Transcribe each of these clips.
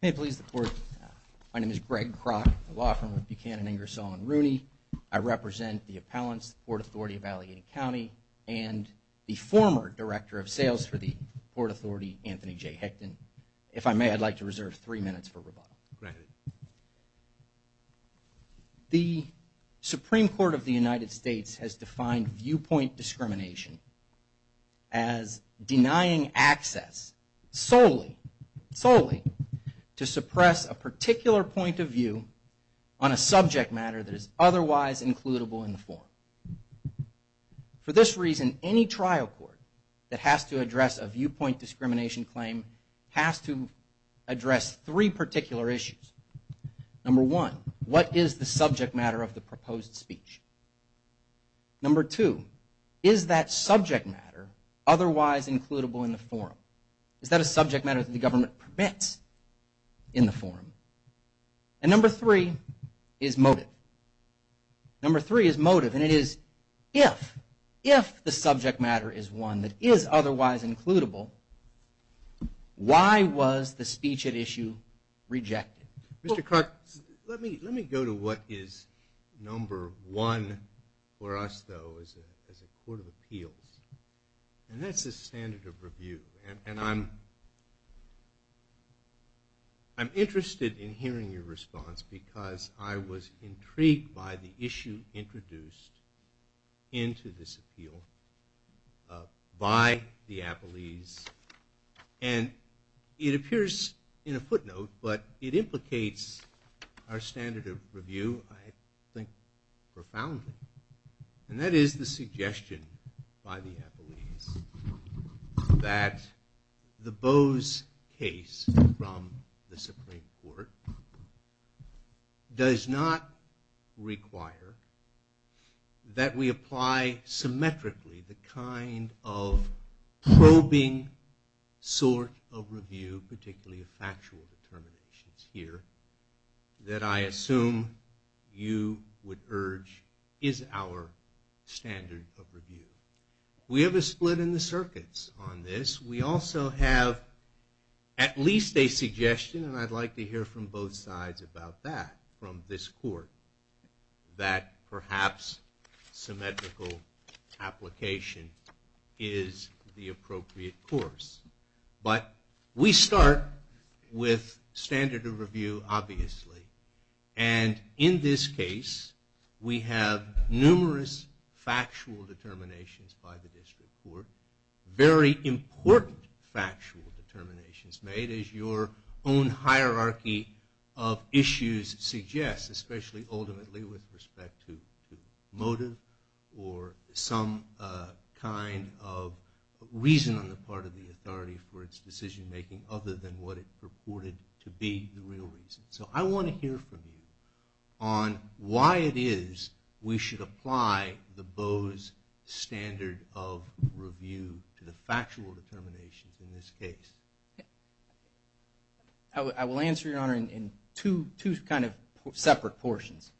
May it please the Court. My name is Greg Kroc, the law firm of Buchanan, Ingersoll & Rooney. I represent the appellants, the Port Authority Of Allegheny County, and the former Director of Sales for the Port Authority, Anthony J. Hickton. If I may, I'd like to reserve three minutes for rebuttal. Go ahead. The Supreme Court of the United States has defined viewpoint discrimination as denying access solely to suppress a particular point of view on a subject matter that is otherwise includable in the form. For this reason, any trial court that has to address a viewpoint discrimination claim has to address three particular issues. Number one, what is the subject matter of the proposed speech? Number two, is that subject matter otherwise includable in the form? Is that a subject matter that the government permits in the form? And number three is motive. Number three is motive, and it is if. If the subject matter is one that is otherwise includable, why was the speech at issue rejected? Mr. Clark, let me go to what is number one for us, though, as a court of appeals. And that's the standard of review. And I'm interested in hearing your response because I was intrigued by the issue introduced into this appeal by the appellees. And it appears in a footnote, but it implicates the standard of review, I think, profoundly. And that is the suggestion by the appellees that the Bose case from the Supreme Court does not require that we apply symmetrically the kind of probing sort of review, particularly of factual determinations here, that I assume you would urge is our standard of review. We have a split in the circuits on this. We also have at least a suggestion, and I'd like to hear from both sides about that from this court, that perhaps symmetrical application is the appropriate course. But we start with standard of review, obviously. And in this case, we have numerous factual determinations by the district court, very important factual determinations made, as your own hierarchy of issues suggests, especially ultimately with respect to motive or some kind of reason on the part of the authority. It's not the authority for its decision-making other than what it purported to be the real reason. So I want to hear from you on why it is we should apply the Bose standard of review to the factual determinations in this case. I will answer, Your Honor, in two kind of separate portions.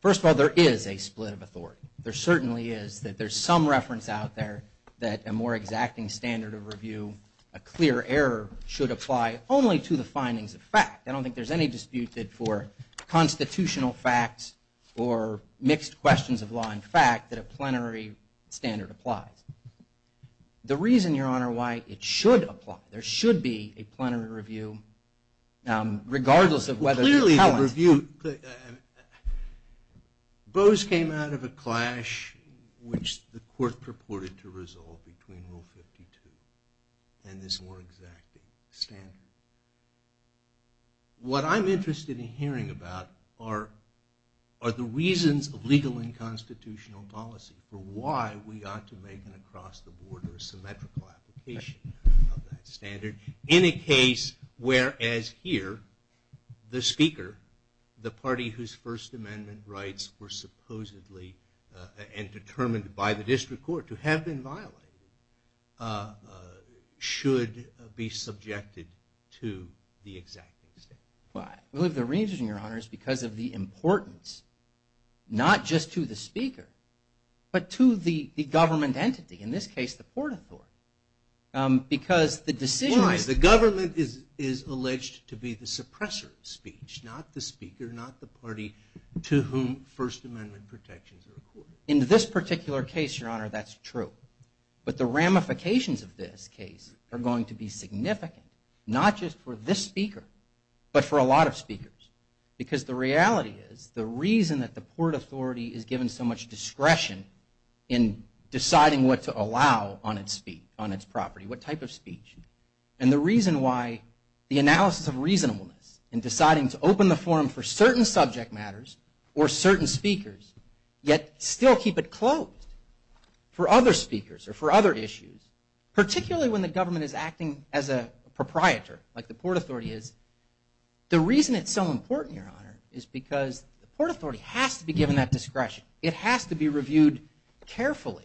First of all, there is a split of authority. There certainly is that there's some reference out there that a more exacting standard of review, a clear error, should apply only to the findings of fact. I don't think there's any dispute that for constitutional facts or mixed questions of law and fact that a plenary standard applies. The reason, Your Honor, why it should apply, there should be a plenary review, regardless of whether... Bose came out of a clash which the court purported to resolve between Rule 52 and this more exacting standard. What I'm interested in hearing about are the reasons of legal and constitutional policy for why we ought to make an across-the-border symmetrical application of that standard in a case where, as here, the speaker, the party whose First Amendment rights were supposedly determined by the district court to have been violated, should be subjected to the exacting standard. The reason, Your Honor, is because of the importance, not just to the speaker, but to the government entity, in this case the Port Authority, because the decision... The government is alleged to be the suppressor of speech, not the speaker, not the party to whom First Amendment protections are accorded. In this particular case, Your Honor, that's true, but the ramifications of this case are going to be significant, not just for this speaker, but for a lot of speakers, because the reality is the reason that the Port Authority is given so much discretion in the analysis of reasonableness in deciding to open the forum for certain subject matters or certain speakers, yet still keep it closed for other speakers or for other issues, particularly when the government is acting as a proprietor, like the Port Authority is. The reason it's so important, Your Honor, is because the Port Authority has to be given that discretion. It has to be reviewed carefully,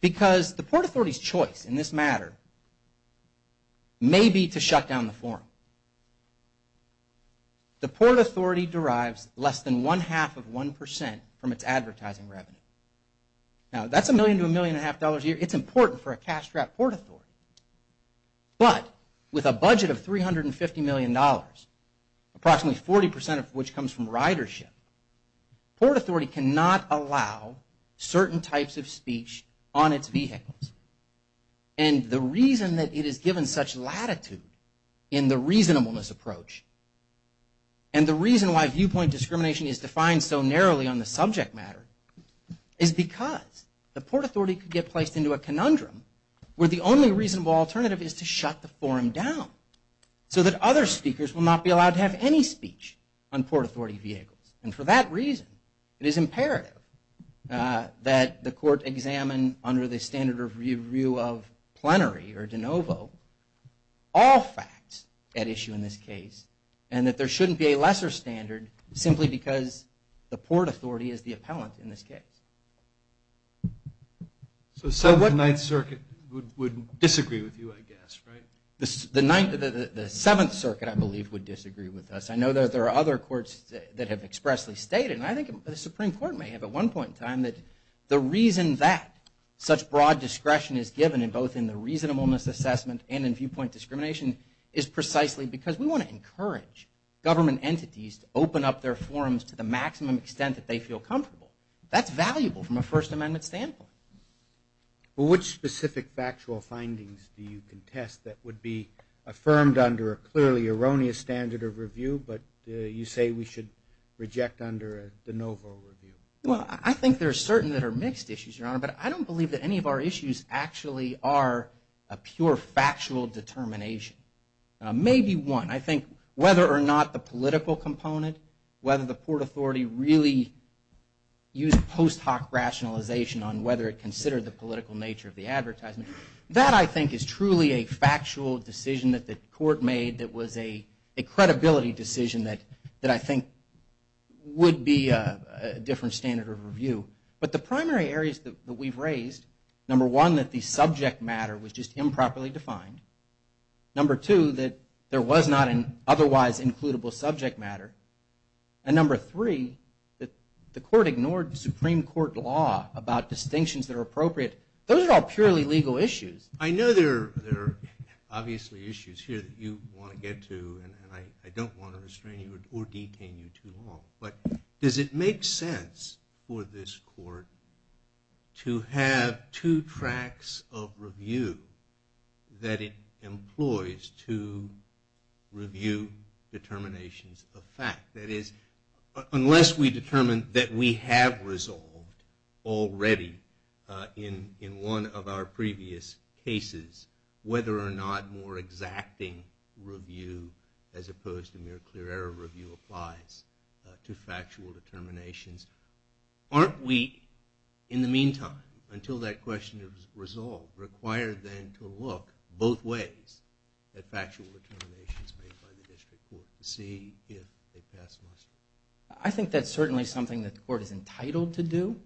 because the Port Authority's choice in this matter may be to shut down the forum. The Port Authority derives less than one-half of one percent from its advertising revenue. Now, that's a million to a million and a half dollars a year. It's important for a cash-strapped Port Authority. But with a budget of $350 million, approximately 40 percent of which comes from ridership, Port Authority cannot allow certain types of speech on its vehicles. And the reason that it is given such latitude in the reasonableness approach, and the reason why viewpoint discrimination is defined so narrowly on the subject matter, is because the Port Authority could get placed into a reasonable alternative, which is to shut the forum down so that other speakers will not be allowed to have any speech on Port Authority vehicles. And for that reason, it is imperative that the Court examine under the standard review of plenary, or de novo, all facts at issue in this case, and that there shouldn't be a lesser standard simply because the Port Authority is the appellant in this case. So the Seventh and Ninth Circuit would disagree with you, I guess, right? The Seventh Circuit, I believe, would disagree with us. I know that there are other courts that have expressly stated, and I think the Supreme Court may have at one point in time, that the reason that such broad discretion is given in both in the reasonableness assessment and in viewpoint discrimination is precisely because we want to encourage government entities to meet the maximum extent that they feel comfortable. That's valuable from a First Amendment standpoint. Well, which specific factual findings do you contest that would be affirmed under a clearly erroneous standard of review, but you say we should reject under a de novo review? Well, I think there are certain that are mixed issues, Your Honor, but I don't believe that any of our issues actually are a pure factual determination. Maybe one. I think whether or not the political component, whether the Port Authority is really used post hoc rationalization on whether it considered the political nature of the advertisement, that I think is truly a factual decision that the court made that was a credibility decision that I think would be a different standard of review. But the primary areas that we've raised, number one, that the subject matter was just improperly defined, number two, that there was not an otherwise includable subject matter, and number three, that the court ignored the Supreme Court law about distinctions that are appropriate. Those are all purely legal issues. I know there are obviously issues here that you want to get to, and I don't want to restrain you or detain you too long, but does it make sense for this court to have two tracts of review that it employs to determine whether or not the Supreme Court review determinations of fact? That is, unless we determine that we have resolved already in one of our previous cases whether or not more exacting review as opposed to mere clear error review applies to factual determinations. Aren't we, in the meantime, until that question is resolved, required then to look both ways at factual determinations made by the district court to see if they pass muster? I think that's certainly something that the court is entitled to do,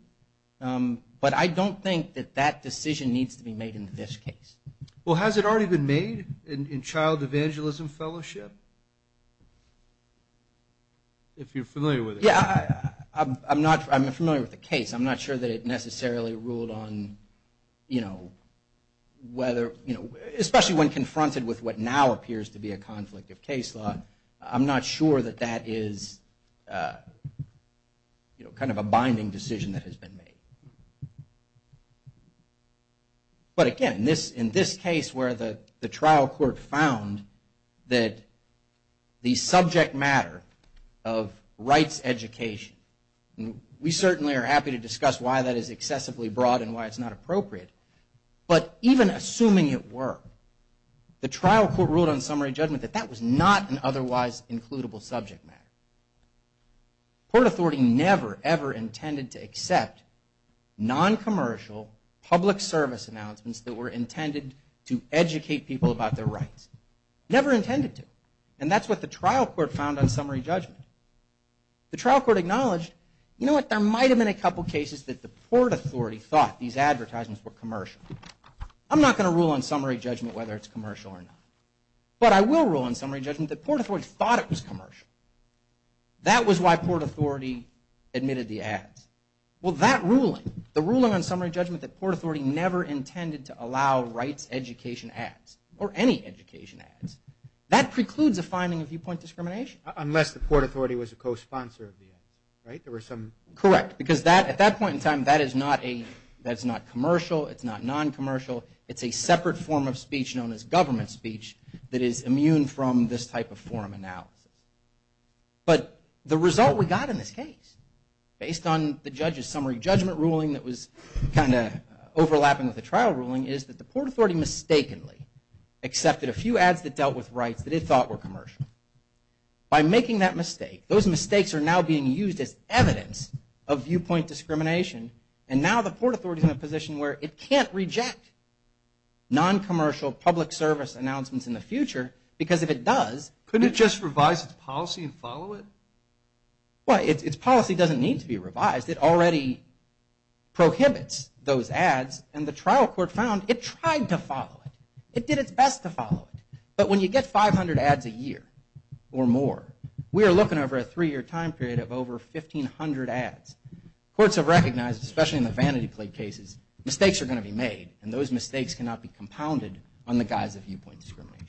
but I don't think that that decision needs to be made in this case. Well, has it already been made in child evangelism fellowship? If you're familiar with it. Yeah, I'm familiar with the case. I'm not sure that it necessarily ruled on, you know, whether, especially when confronted with what now appears to be a conflict of case law, I'm not sure that that is kind of a binding decision that has been made. But again, in this case where the trial court found that the subject matter of rights education, we certainly are happy to discuss why that is excessively broad and why it's not appropriate, but even assuming it were, the trial court ruled on summary judgment that that was not an otherwise includable subject matter. The court authority never, ever intended to accept noncommercial public service announcements that were intended to educate people about their rights. Never intended to. And that's what the trial court found on summary judgment. The trial court acknowledged, you know what, there might have been a couple cases that the port authority thought these advertisements were commercial. I'm not going to rule on summary judgment whether it's commercial or not. But I will rule on summary judgment that port authorities thought it was commercial. That was why port authority admitted the ads. Well, that ruling, the ruling on summary judgment that port authority never intended to allow rights education ads, or any education ads, that precludes a finding of viewpoint discrimination. Unless the port authority was a co-sponsor of the ads, right? There were some... Correct, because at that point in time that is not commercial, it's not noncommercial, it's a separate form of speech known as government speech that is immune from this type of forum analysis. But the result we got in this case, based on the judge's summary judgment ruling that was kind of overlapping with the trial ruling, is that the port authority mistakenly accepted a few ads that dealt with rights that it thought were commercial. By making that mistake, those mistakes are now being used as evidence of viewpoint discrimination. And now the port authority is in a position where it can't reject noncommercial public service announcements in the future, because if it does... prohibits those ads, and the trial court found it tried to follow it. It did its best to follow it. But when you get 500 ads a year, or more, we are looking over a three year time period of over 1,500 ads. Courts have recognized, especially in the vanity plate cases, mistakes are going to be made, and those mistakes cannot be compounded on the guise of viewpoint discrimination.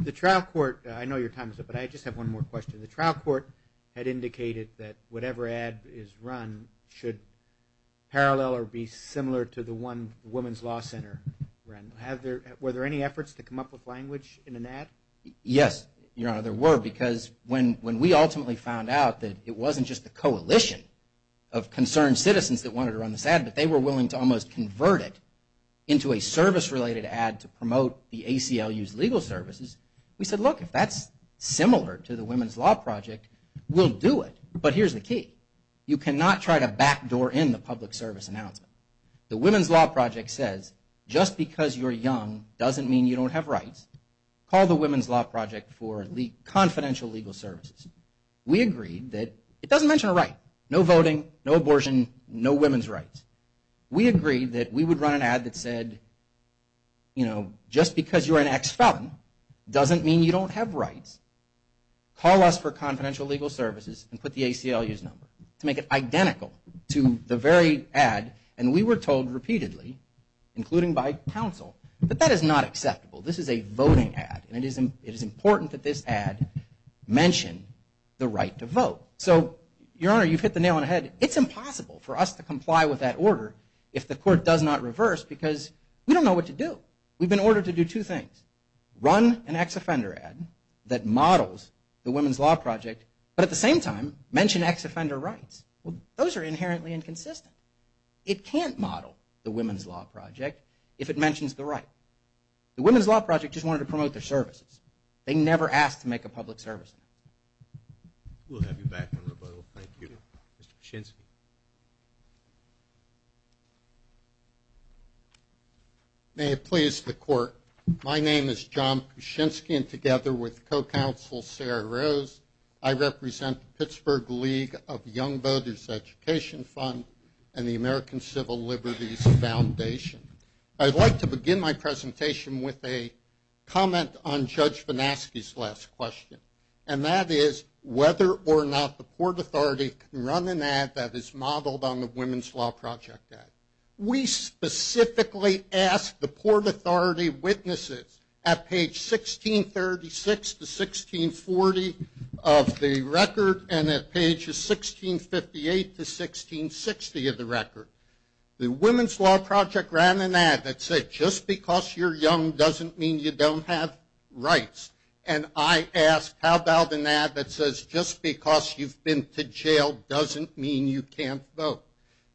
The trial court, I know your time is up, but I just have one more question. The trial court had indicated that whatever ad is run should parallel or be similar to the one the Women's Law Center ran. Were there any efforts to come up with language in an ad? Yes, Your Honor, there were. Because when we ultimately found out that it wasn't just the coalition of concerned citizens that wanted to run this ad, but they were willing to almost convert it into a service related ad to promote the ACLU's legal services, we said, look, if that's similar to the Women's Law Project, we'll do it. But here's the key. You cannot try to backdoor in the public service announcement. The Women's Law Project says, just because you're young doesn't mean you don't have rights. Call the Women's Law Project for confidential legal services. We agreed that it doesn't mention a right. No voting, no abortion, no women's rights. We agreed that we would run an ad that said, you know, just because you're an ex-felon doesn't mean you don't have rights. Call us for confidential legal services and put the ACLU's number to make it identical to the very ad. And we were told repeatedly, including by counsel, that that is not acceptable. This is a voting ad. And it is important that this ad mention the right to vote. So, Your Honor, you've hit the nail on the head. It's impossible for us to comply with that order if the court does not reverse because we don't know what to do. We've been ordered to do two things. Run an ex-offender ad that models the Women's Law Project, but at the same time mention ex-offender rights. Those are inherently inconsistent. It can't model the Women's Law Project if it mentions the right. The Women's Law Project just wanted to promote their services. They never asked to make a public service. We'll have you back in rebuttal. Thank you. Mr. Kuczynski. May it please the court. My name is John Kuczynski and together with co-counsel Sarah Rose, I represent the Pittsburgh League of Young Voters Education Fund and the American Civil Liberties Foundation. I'd like to begin my presentation with a comment on Judge Vanaski's last question, and that is whether or not the Port Authority can run an ad that is modeled on the Women's Law Project ad. We specifically asked the Port Authority witnesses at page 1636 to 1640 of the record and at pages 1658 to 1660 of the record. The Women's Law Project ran an ad that said just because you're young doesn't mean you don't have rights. And I asked how about an ad that says just because you've been to jail doesn't mean you can't vote.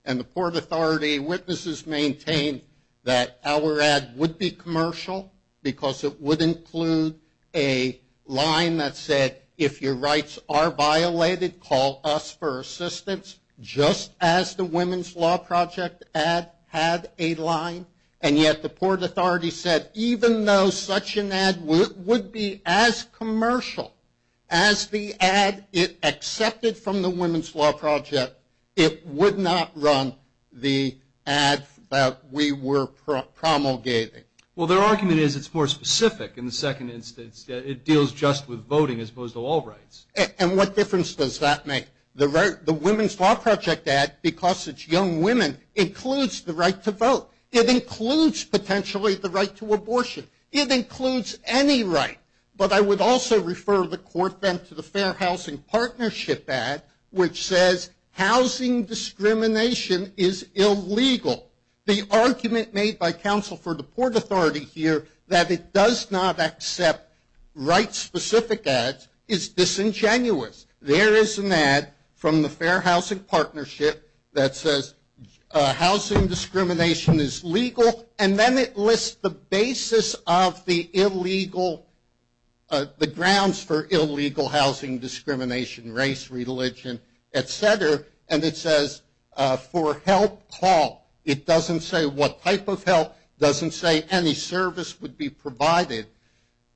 And the Port Authority witnesses maintained that our ad would be commercial because it would include a line that said if your rights are violated, call us for assistance, just as the Women's Law Project ad had a line. And yet the Port Authority said even though such an ad would be as commercial as the ad it accepted from the Women's Law Project, it would not run the ad that we were promulgating. Well, their argument is it's more specific in the second instance. It deals just with voting as opposed to all rights. And what difference does that make? The Women's Law Project ad, because it's young women, includes the right to vote. It includes potentially the right to abortion. It includes any right. But I would also refer the court then to the Fair Housing Partnership ad which says housing discrimination is illegal. The argument made by counsel for the Port Authority here that it does not accept right-specific ads is disingenuous. There is an ad from the Fair Housing Partnership that says housing discrimination is legal. And then it lists the basis of the illegal the grounds for illegal housing discrimination, race, religion, et cetera. And it says for help call. It doesn't say what type of help. It doesn't say any service would be provided.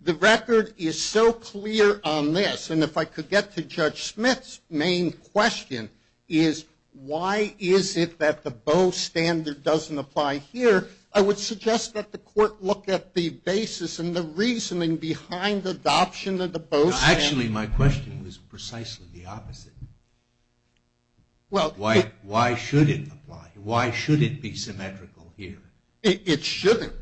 The record is so clear on this. And if I could get to Judge Smith's main question is why is it that the BOE standard doesn't apply here, I would suggest that the court look at the basis and the reasoning behind the adoption of the BOE standard. Actually my question was precisely the opposite. Why should it apply? Why should it be symmetrical here? It shouldn't.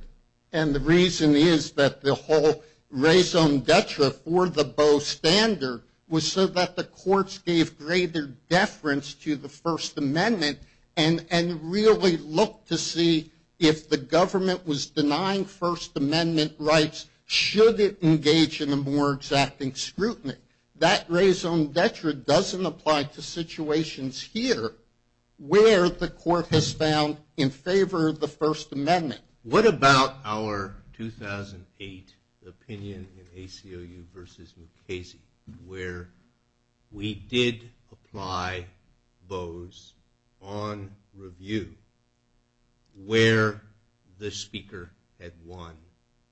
And the reason is that the whole raison d'etre for the BOE standard was so that the courts gave greater deference to the First Amendment and really looked to see if the government was denying First Amendment rights should it engage in a more exacting scrutiny. That raison d'etre doesn't apply to situations here where the court has found in favor of the First Amendment. What about our 2008 opinion in ACLU versus Mukasey where we did apply BOE's on review where the speaker had won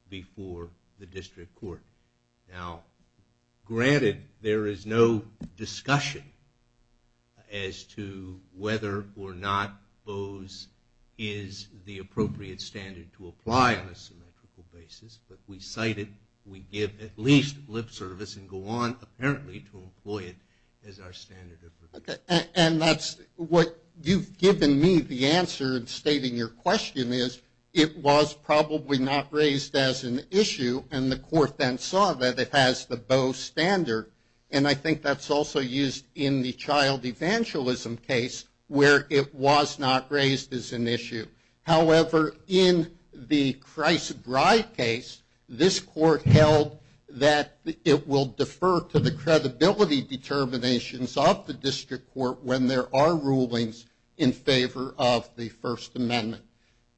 before the district court. Now granted there is no discussion as to whether or not BOE's is the appropriate standard to apply on a symmetrical basis, but we cite it, we give at least lip service and go on apparently to employ it as our standard of review. What you've given me the answer in stating your question is it was probably not raised as an issue and the court then saw that it has the BOE standard and I think that's also used in the child evangelism case where it was not raised as an issue. However, in the Christ's Bride case, this court held that it will defer to the credibility determinations of the district court when there are rulings in favor of the First Amendment.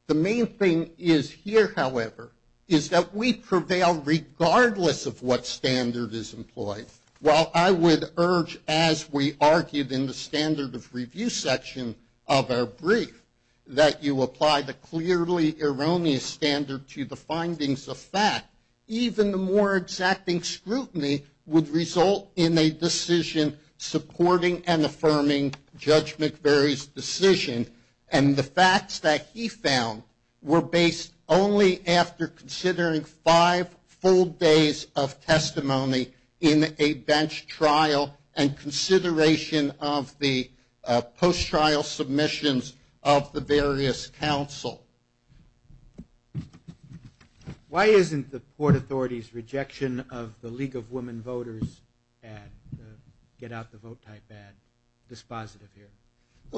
The main thing is here, however, is that we prevail regardless of what standard is employed. While I would urge as we argued in the standard of review section of our brief that you apply the clearly erroneous standard to the findings of fact, even the more exacting scrutiny would result in a decision supporting and affirming Judge McVeary's decision and the facts that he found were based only after considering five full days of testimony in a bench trial and consideration of the post-trial submissions of the various counsel. Why isn't the Port Authority's rejection of the League of Women Voters ad, the Get Out the Vote type ad, dispositive here?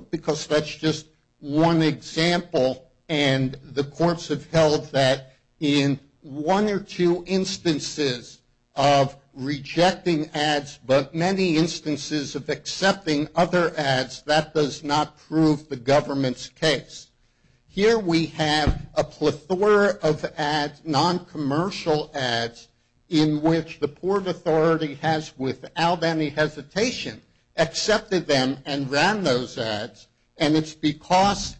Because that's just one example and the courts have held that in one or two instances of rejecting ads, but many instances of accepting other ads, that does not prove the government's case. Here we have a plethora of non-commercial ads in which the Port Authority has, without any hesitation, accepted them and ran those ads and it's because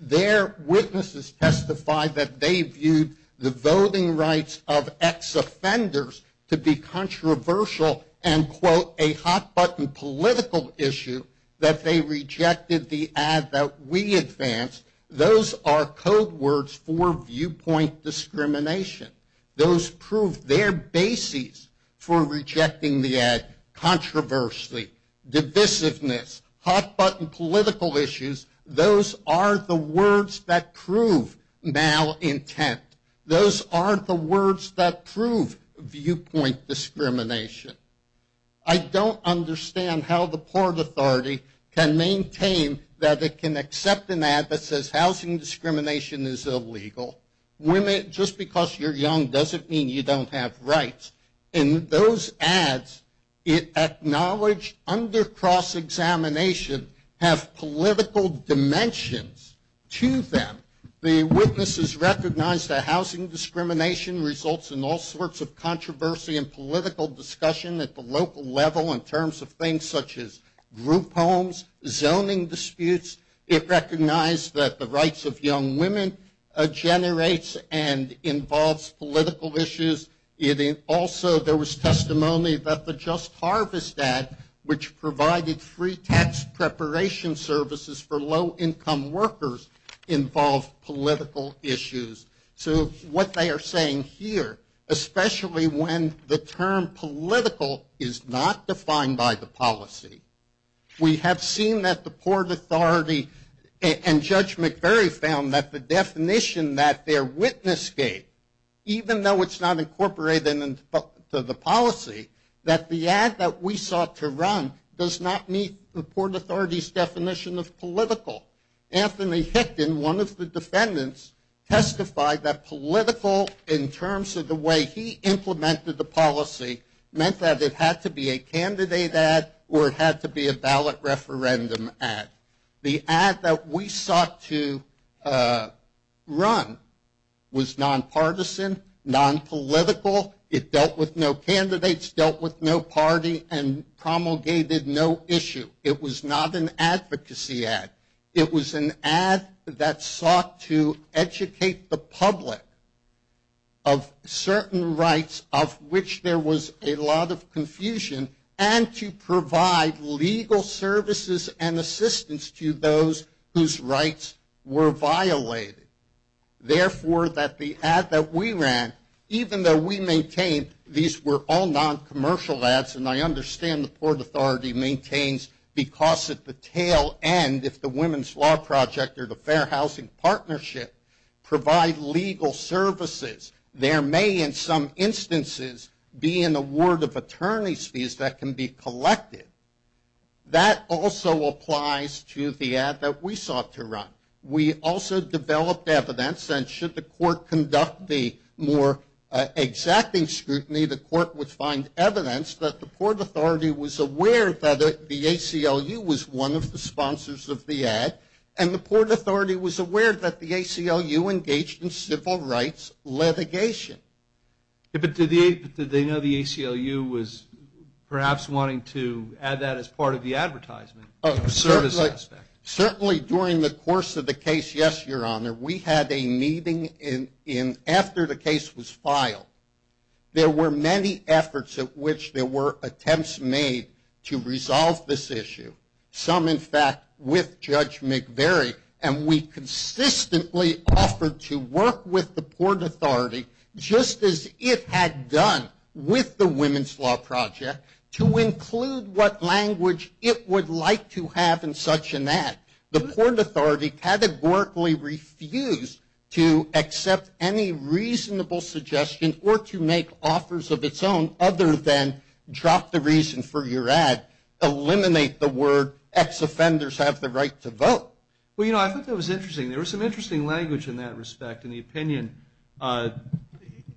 their witnesses testified that they viewed the voting rights of ex-offenders to be controversial and, quote, a hot-button political issue that they rejected the ad that we advanced. Those are code words for viewpoint discrimination. Those prove their basis for rejecting the ad. Controversy, divisiveness, hot-button political issues, those are the words that prove malintent. Those are the words that prove viewpoint discrimination. I don't understand how the Port Authority can maintain that it can accept an ad that says housing discrimination is illegal. Just because you're young doesn't mean you don't have rights. And those ads acknowledge under cross-examination have political dimensions to them. The witnesses recognize that housing discrimination results in all sorts of controversy and political discussion at the local level in terms of things such as group homes, zoning disputes. It recognized that the rights of young women generates and involves political issues. Also, there was testimony that the Just Harvest ad, which provided free tax preparation services for low income workers, involved political issues. So what they are saying here, especially when the term political is not defined by the policy, we have seen that the Port Authority and Judge McVery found that the definition that their witness gave, even though it's not incorporated into the policy, that the ad that we sought to run does not meet the Port Authority's definition of political. Anthony Hickin, one of the defendants, testified that political in terms of the way he implemented the policy meant that it had to be a candidate ad or it had to be a ballot referendum ad. The ad that we sought to run was nonpartisan, nonpolitical, it dealt with no candidates, dealt with no party, and promulgated no issue. It was not an advocacy ad. It was an ad that sought to educate the public of certain rights of which there was a lot of confusion and to provide legal services and assistance to those whose rights were violated. Therefore, that the ad that we maintained, these were all noncommercial ads, and I understand the Port Authority maintains because at the tail end, if the Women's Law Project or the Fair Housing Partnership provide legal services, there may in some instances be an award of attorney's fees that can be collected. That also applies to the ad that we sought to run. We also developed evidence, and should the court conduct the more exacting scrutiny, the court would find evidence that the Port Authority was aware that the ACLU was one of the sponsors of the ad, and the Port Authority was aware that the ACLU engaged in civil rights litigation. But did they know the ACLU was perhaps wanting to add that as part of the case? There were many efforts at which there were attempts made to resolve this issue, some in fact with Judge McVeary, and we consistently offered to work with the Port Authority, just as it had done with the Women's Law Project, to include what language it would like to have in such an ad. The Port Authority categorically refused to accept any reasonable suggestion or to make offers of its own other than drop the reason for your ad, eliminate the word ex-offenders have the right to vote. Well, you know, I thought that was interesting. There was some interesting language in that respect in the opinion.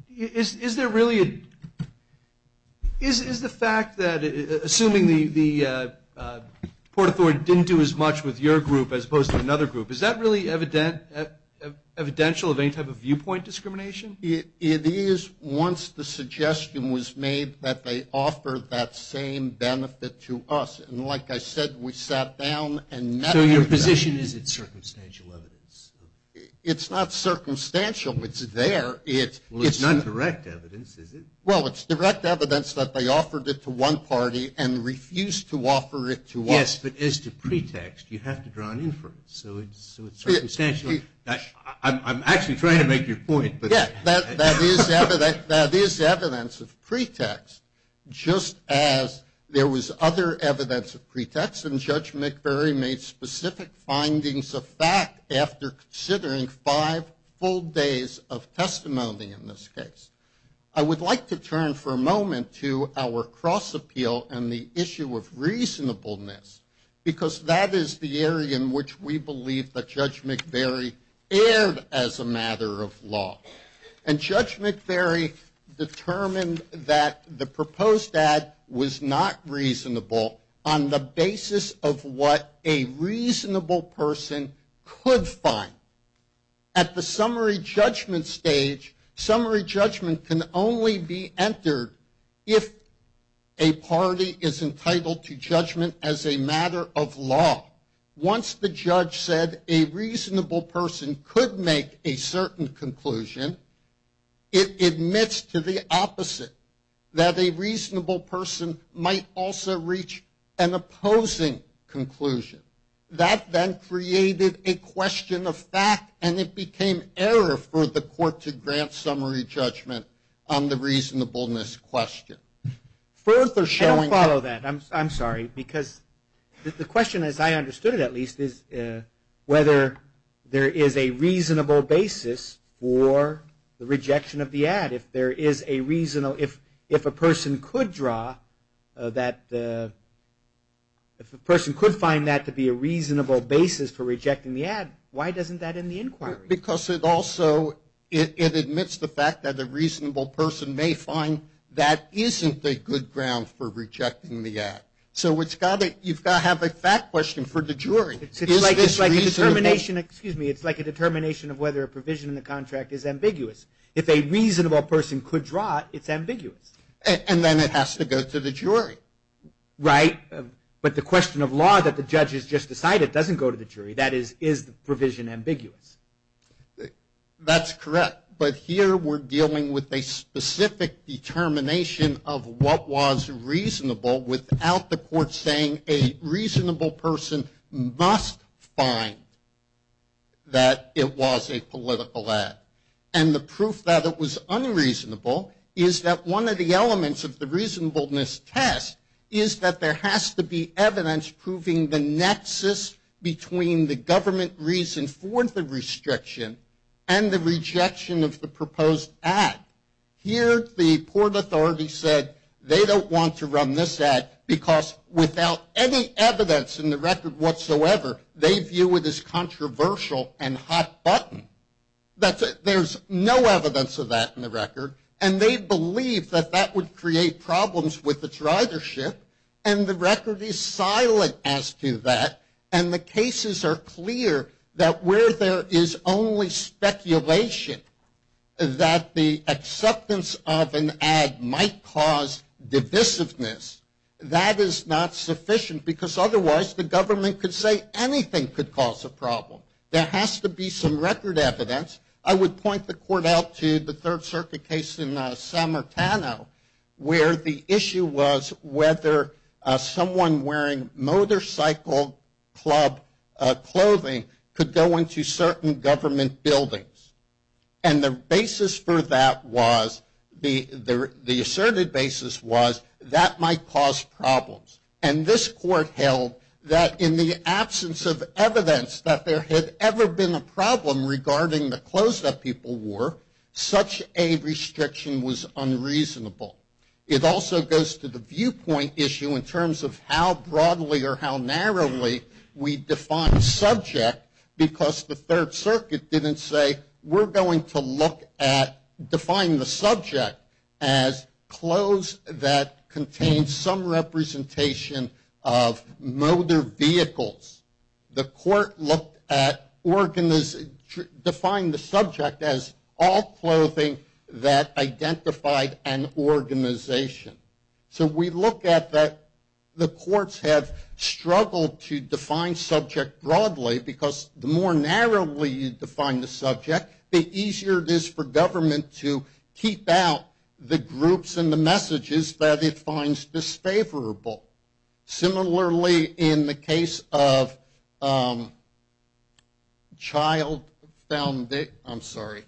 Is there really a fact that, assuming the Port Authority didn't do as much with your group as opposed to another group, is that really evidential of any type of viewpoint discrimination? It is once the suggestion was made that they offered that same benefit to us. And like I said, we sat down and met So your position is it's circumstantial evidence? It's not circumstantial, it's there. Well, it's not direct evidence, is it? Well, it's direct evidence that they offered it to one party and refused to offer it to us. Yes, but as to pretext, you have to draw an inference. I'm actually trying to make your point. That is evidence of pretext, just as there was other evidence of pretext, and Judge McVeary made specific findings of fact after considering five full days of testimony in this case. I would like to turn for a moment to our cross appeal and the issue of reasonableness, because that is the area in which we believe that Judge McVeary erred as a matter of law. And Judge McVeary determined that the proposed ad was not reasonable on the basis of what a reasonable person could find. At the summary judgment stage, summary judgment can only be entered if a party is entitled to judgment as a matter of law. Once the judge said a reasonable person could make a certain conclusion, it admits to the opposite, that a reasonable person might also reach an opposing conclusion. That then created a question of fact, and it became error for the court to grant summary judgment on the reasonableness question. I don't follow that, I'm sorry, because the question, as I understood it at least, is whether there is a reasonable basis for the rejection of the ad. If there is a reasonable, if a person could draw that, if a person could find that to be a reasonable basis for rejecting the ad, why doesn't that end the inquiry? Because it also, it admits the fact that a reasonable person may find that isn't a good ground for rejecting the ad. So you've got to have a fact question for the jury. It's like a determination of whether a provision in the contract is ambiguous. If a reasonable person could draw it, it's ambiguous. And then it has to go to the jury. Right, but the question of law that the judge has just decided doesn't go to the jury. That is, is the provision ambiguous? That's correct, but here we're dealing with a specific determination of what was reasonable without the court saying a reasonable person must find that it was a political ad. And the proof that it was is that there has to be evidence proving the nexus between the government reason for the restriction and the rejection of the proposed ad. Here the Port Authority said they don't want to run this ad because without any evidence in the record whatsoever, they view it as controversial and hot button. There's no evidence of that in the record. And they believe that that would create problems with its ridership. And the record is silent as to that. And the cases are clear that where there is only speculation that the acceptance of an ad might cause divisiveness, that is not sufficient because otherwise the government could say anything could cause a problem. There has to be some record evidence. I would point the court out to the Third Circuit case in San Martino where the issue was whether someone wearing motorcycle club clothing could go into certain government buildings. And the basis for that was, the asserted basis was, that might cause problems. And this court held that in the absence of evidence that there had ever been a problem regarding the clothes that people wore, such a restriction was unreasonable. It also goes to the viewpoint issue in terms of how broadly or how narrowly we define subject because the Third Circuit didn't say we're going to look at define the subject as clothes that contained some representation of motor vehicles. The court looked at, defined the subject as all clothing that identified an organization. So we look at that the courts have struggled to define subject broadly because the more narrowly you define the subject, the easier it is for government to keep out the groups and the messages that it finds disfavorable. Similarly in the case of child founded, I'm sorry,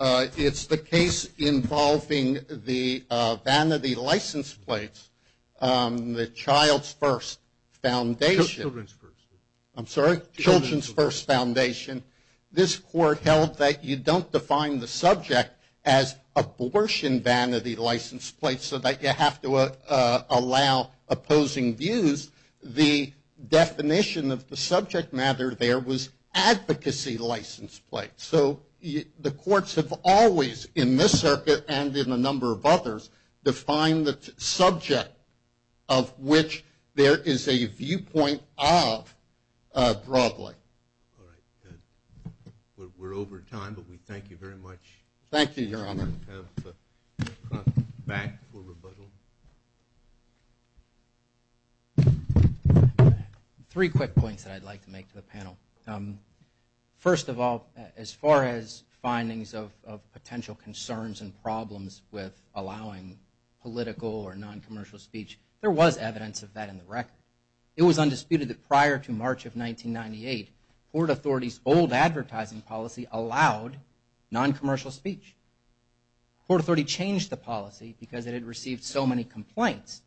it's the case involving the vanity license plates, the Child's First Foundation. Children's First Foundation. This court held that you don't define the subject as abortion vanity license plates so that you have to allow opposing views. The definition of the subject matter there was advocacy license plates. So the courts have always in this circuit and in a number of others defined the subject of which there is a viewpoint of broadly. We're over time, but we thank you very much. Thank you, Your Honor. Three quick points that I'd like to make to the panel. First of all, as far as findings of potential concerns and problems with allowing political or noncommercial speech, there was evidence of that in the record. It was undisputed that prior to March of 1998, Port Authority's old advertising policy allowed noncommercial speech. Port Authority changed the policy because it had received so many complaints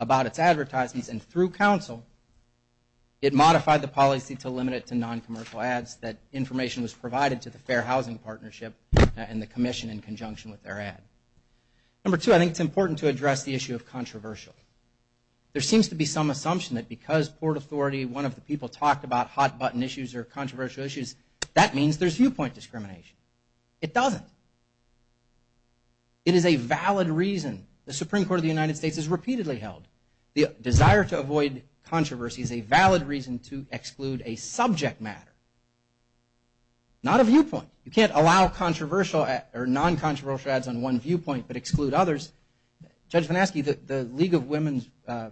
about its advertisements and through counsel, it modified the policy to limit it to noncommercial ads that information was provided to the Fair Housing Partnership and the commission in conjunction with their ad. Number two, I think it's important to address the issue of controversial. There seems to be some assumption that because Port Authority, one of the people talked about hot button issues or controversial issues, that means there's viewpoint discrimination. It doesn't. It is a valid reason. The Supreme Court of the United States has repeatedly held the desire to avoid controversy is a valid reason to exclude a subject matter, not a viewpoint. You can't allow controversial or noncontroversial ads on one viewpoint but exclude others. Judge VanAskey, the League of Women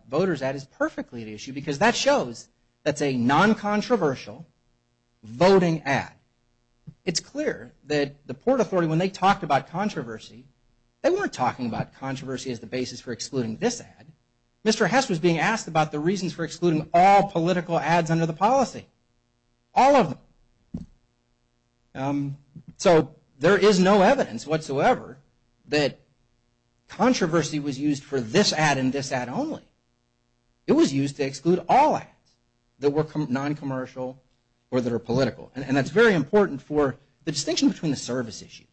Voters ad is perfectly at issue because that shows that's a noncontroversial voting ad. It's clear that the Port Authority, when they talked about controversy, they weren't talking about controversy as the basis for excluding this ad. Mr. Hess was being asked about the reasons for excluding all political ads under the policy. All of them. So there is no evidence whatsoever that controversy was used for this ad and this ad only. It was used to exclude all ads that were noncommercial or that are political. And that's very important for the distinction between the service issues.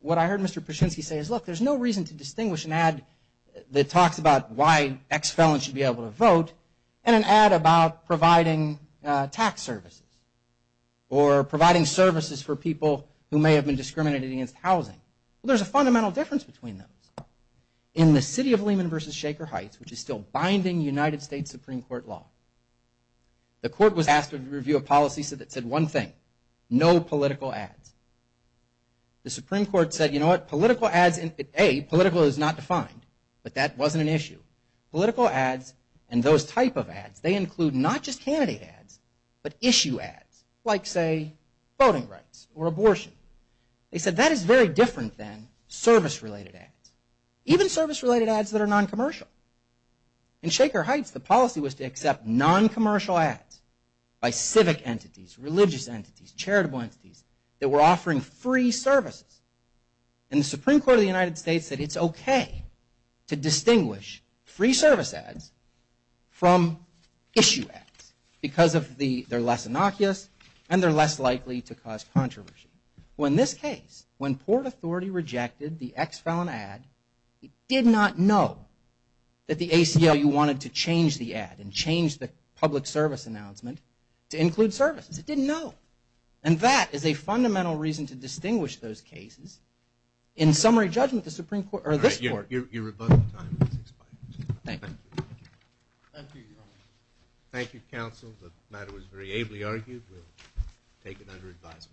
What I heard Mr. Pershinski say is look, there's no reason to distinguish an ad that talks about why X felon should be able to vote and an ad about providing tax services or providing services for people who may have been discriminated against housing. There's a fundamental difference between those. In the city of Lehman versus Shaker Heights, which is still binding United States Supreme Court law, the court was asked to review a policy that said one thing, no political ads. The Supreme Court said, you know what, political ads, A, political is not defined, but that wasn't an issue. Political ads and those type of ads, they include not just candidate ads but issue ads like say voting rights or abortion. They said that is very different than service related ads. Even service related ads that are noncommercial. In Shaker Heights the policy was to accept noncommercial ads by civic entities, religious entities, charitable entities that were offering free services. And the Supreme Court of the United States said it's okay to distinguish free service ads from issue ads because they're less innocuous and they're less likely to cause controversy. Well in this case, when Port Authority rejected the X felon ad, it did not know that the ACLU wanted to change the ad and change the public service announcement to include services. It didn't know. And that is a fundamental reason to distinguish those cases. In summary judgment, the Supreme Court, or this court. Thank you. Thank you counsel. The matter was very ably argued. We'll take it under advisement.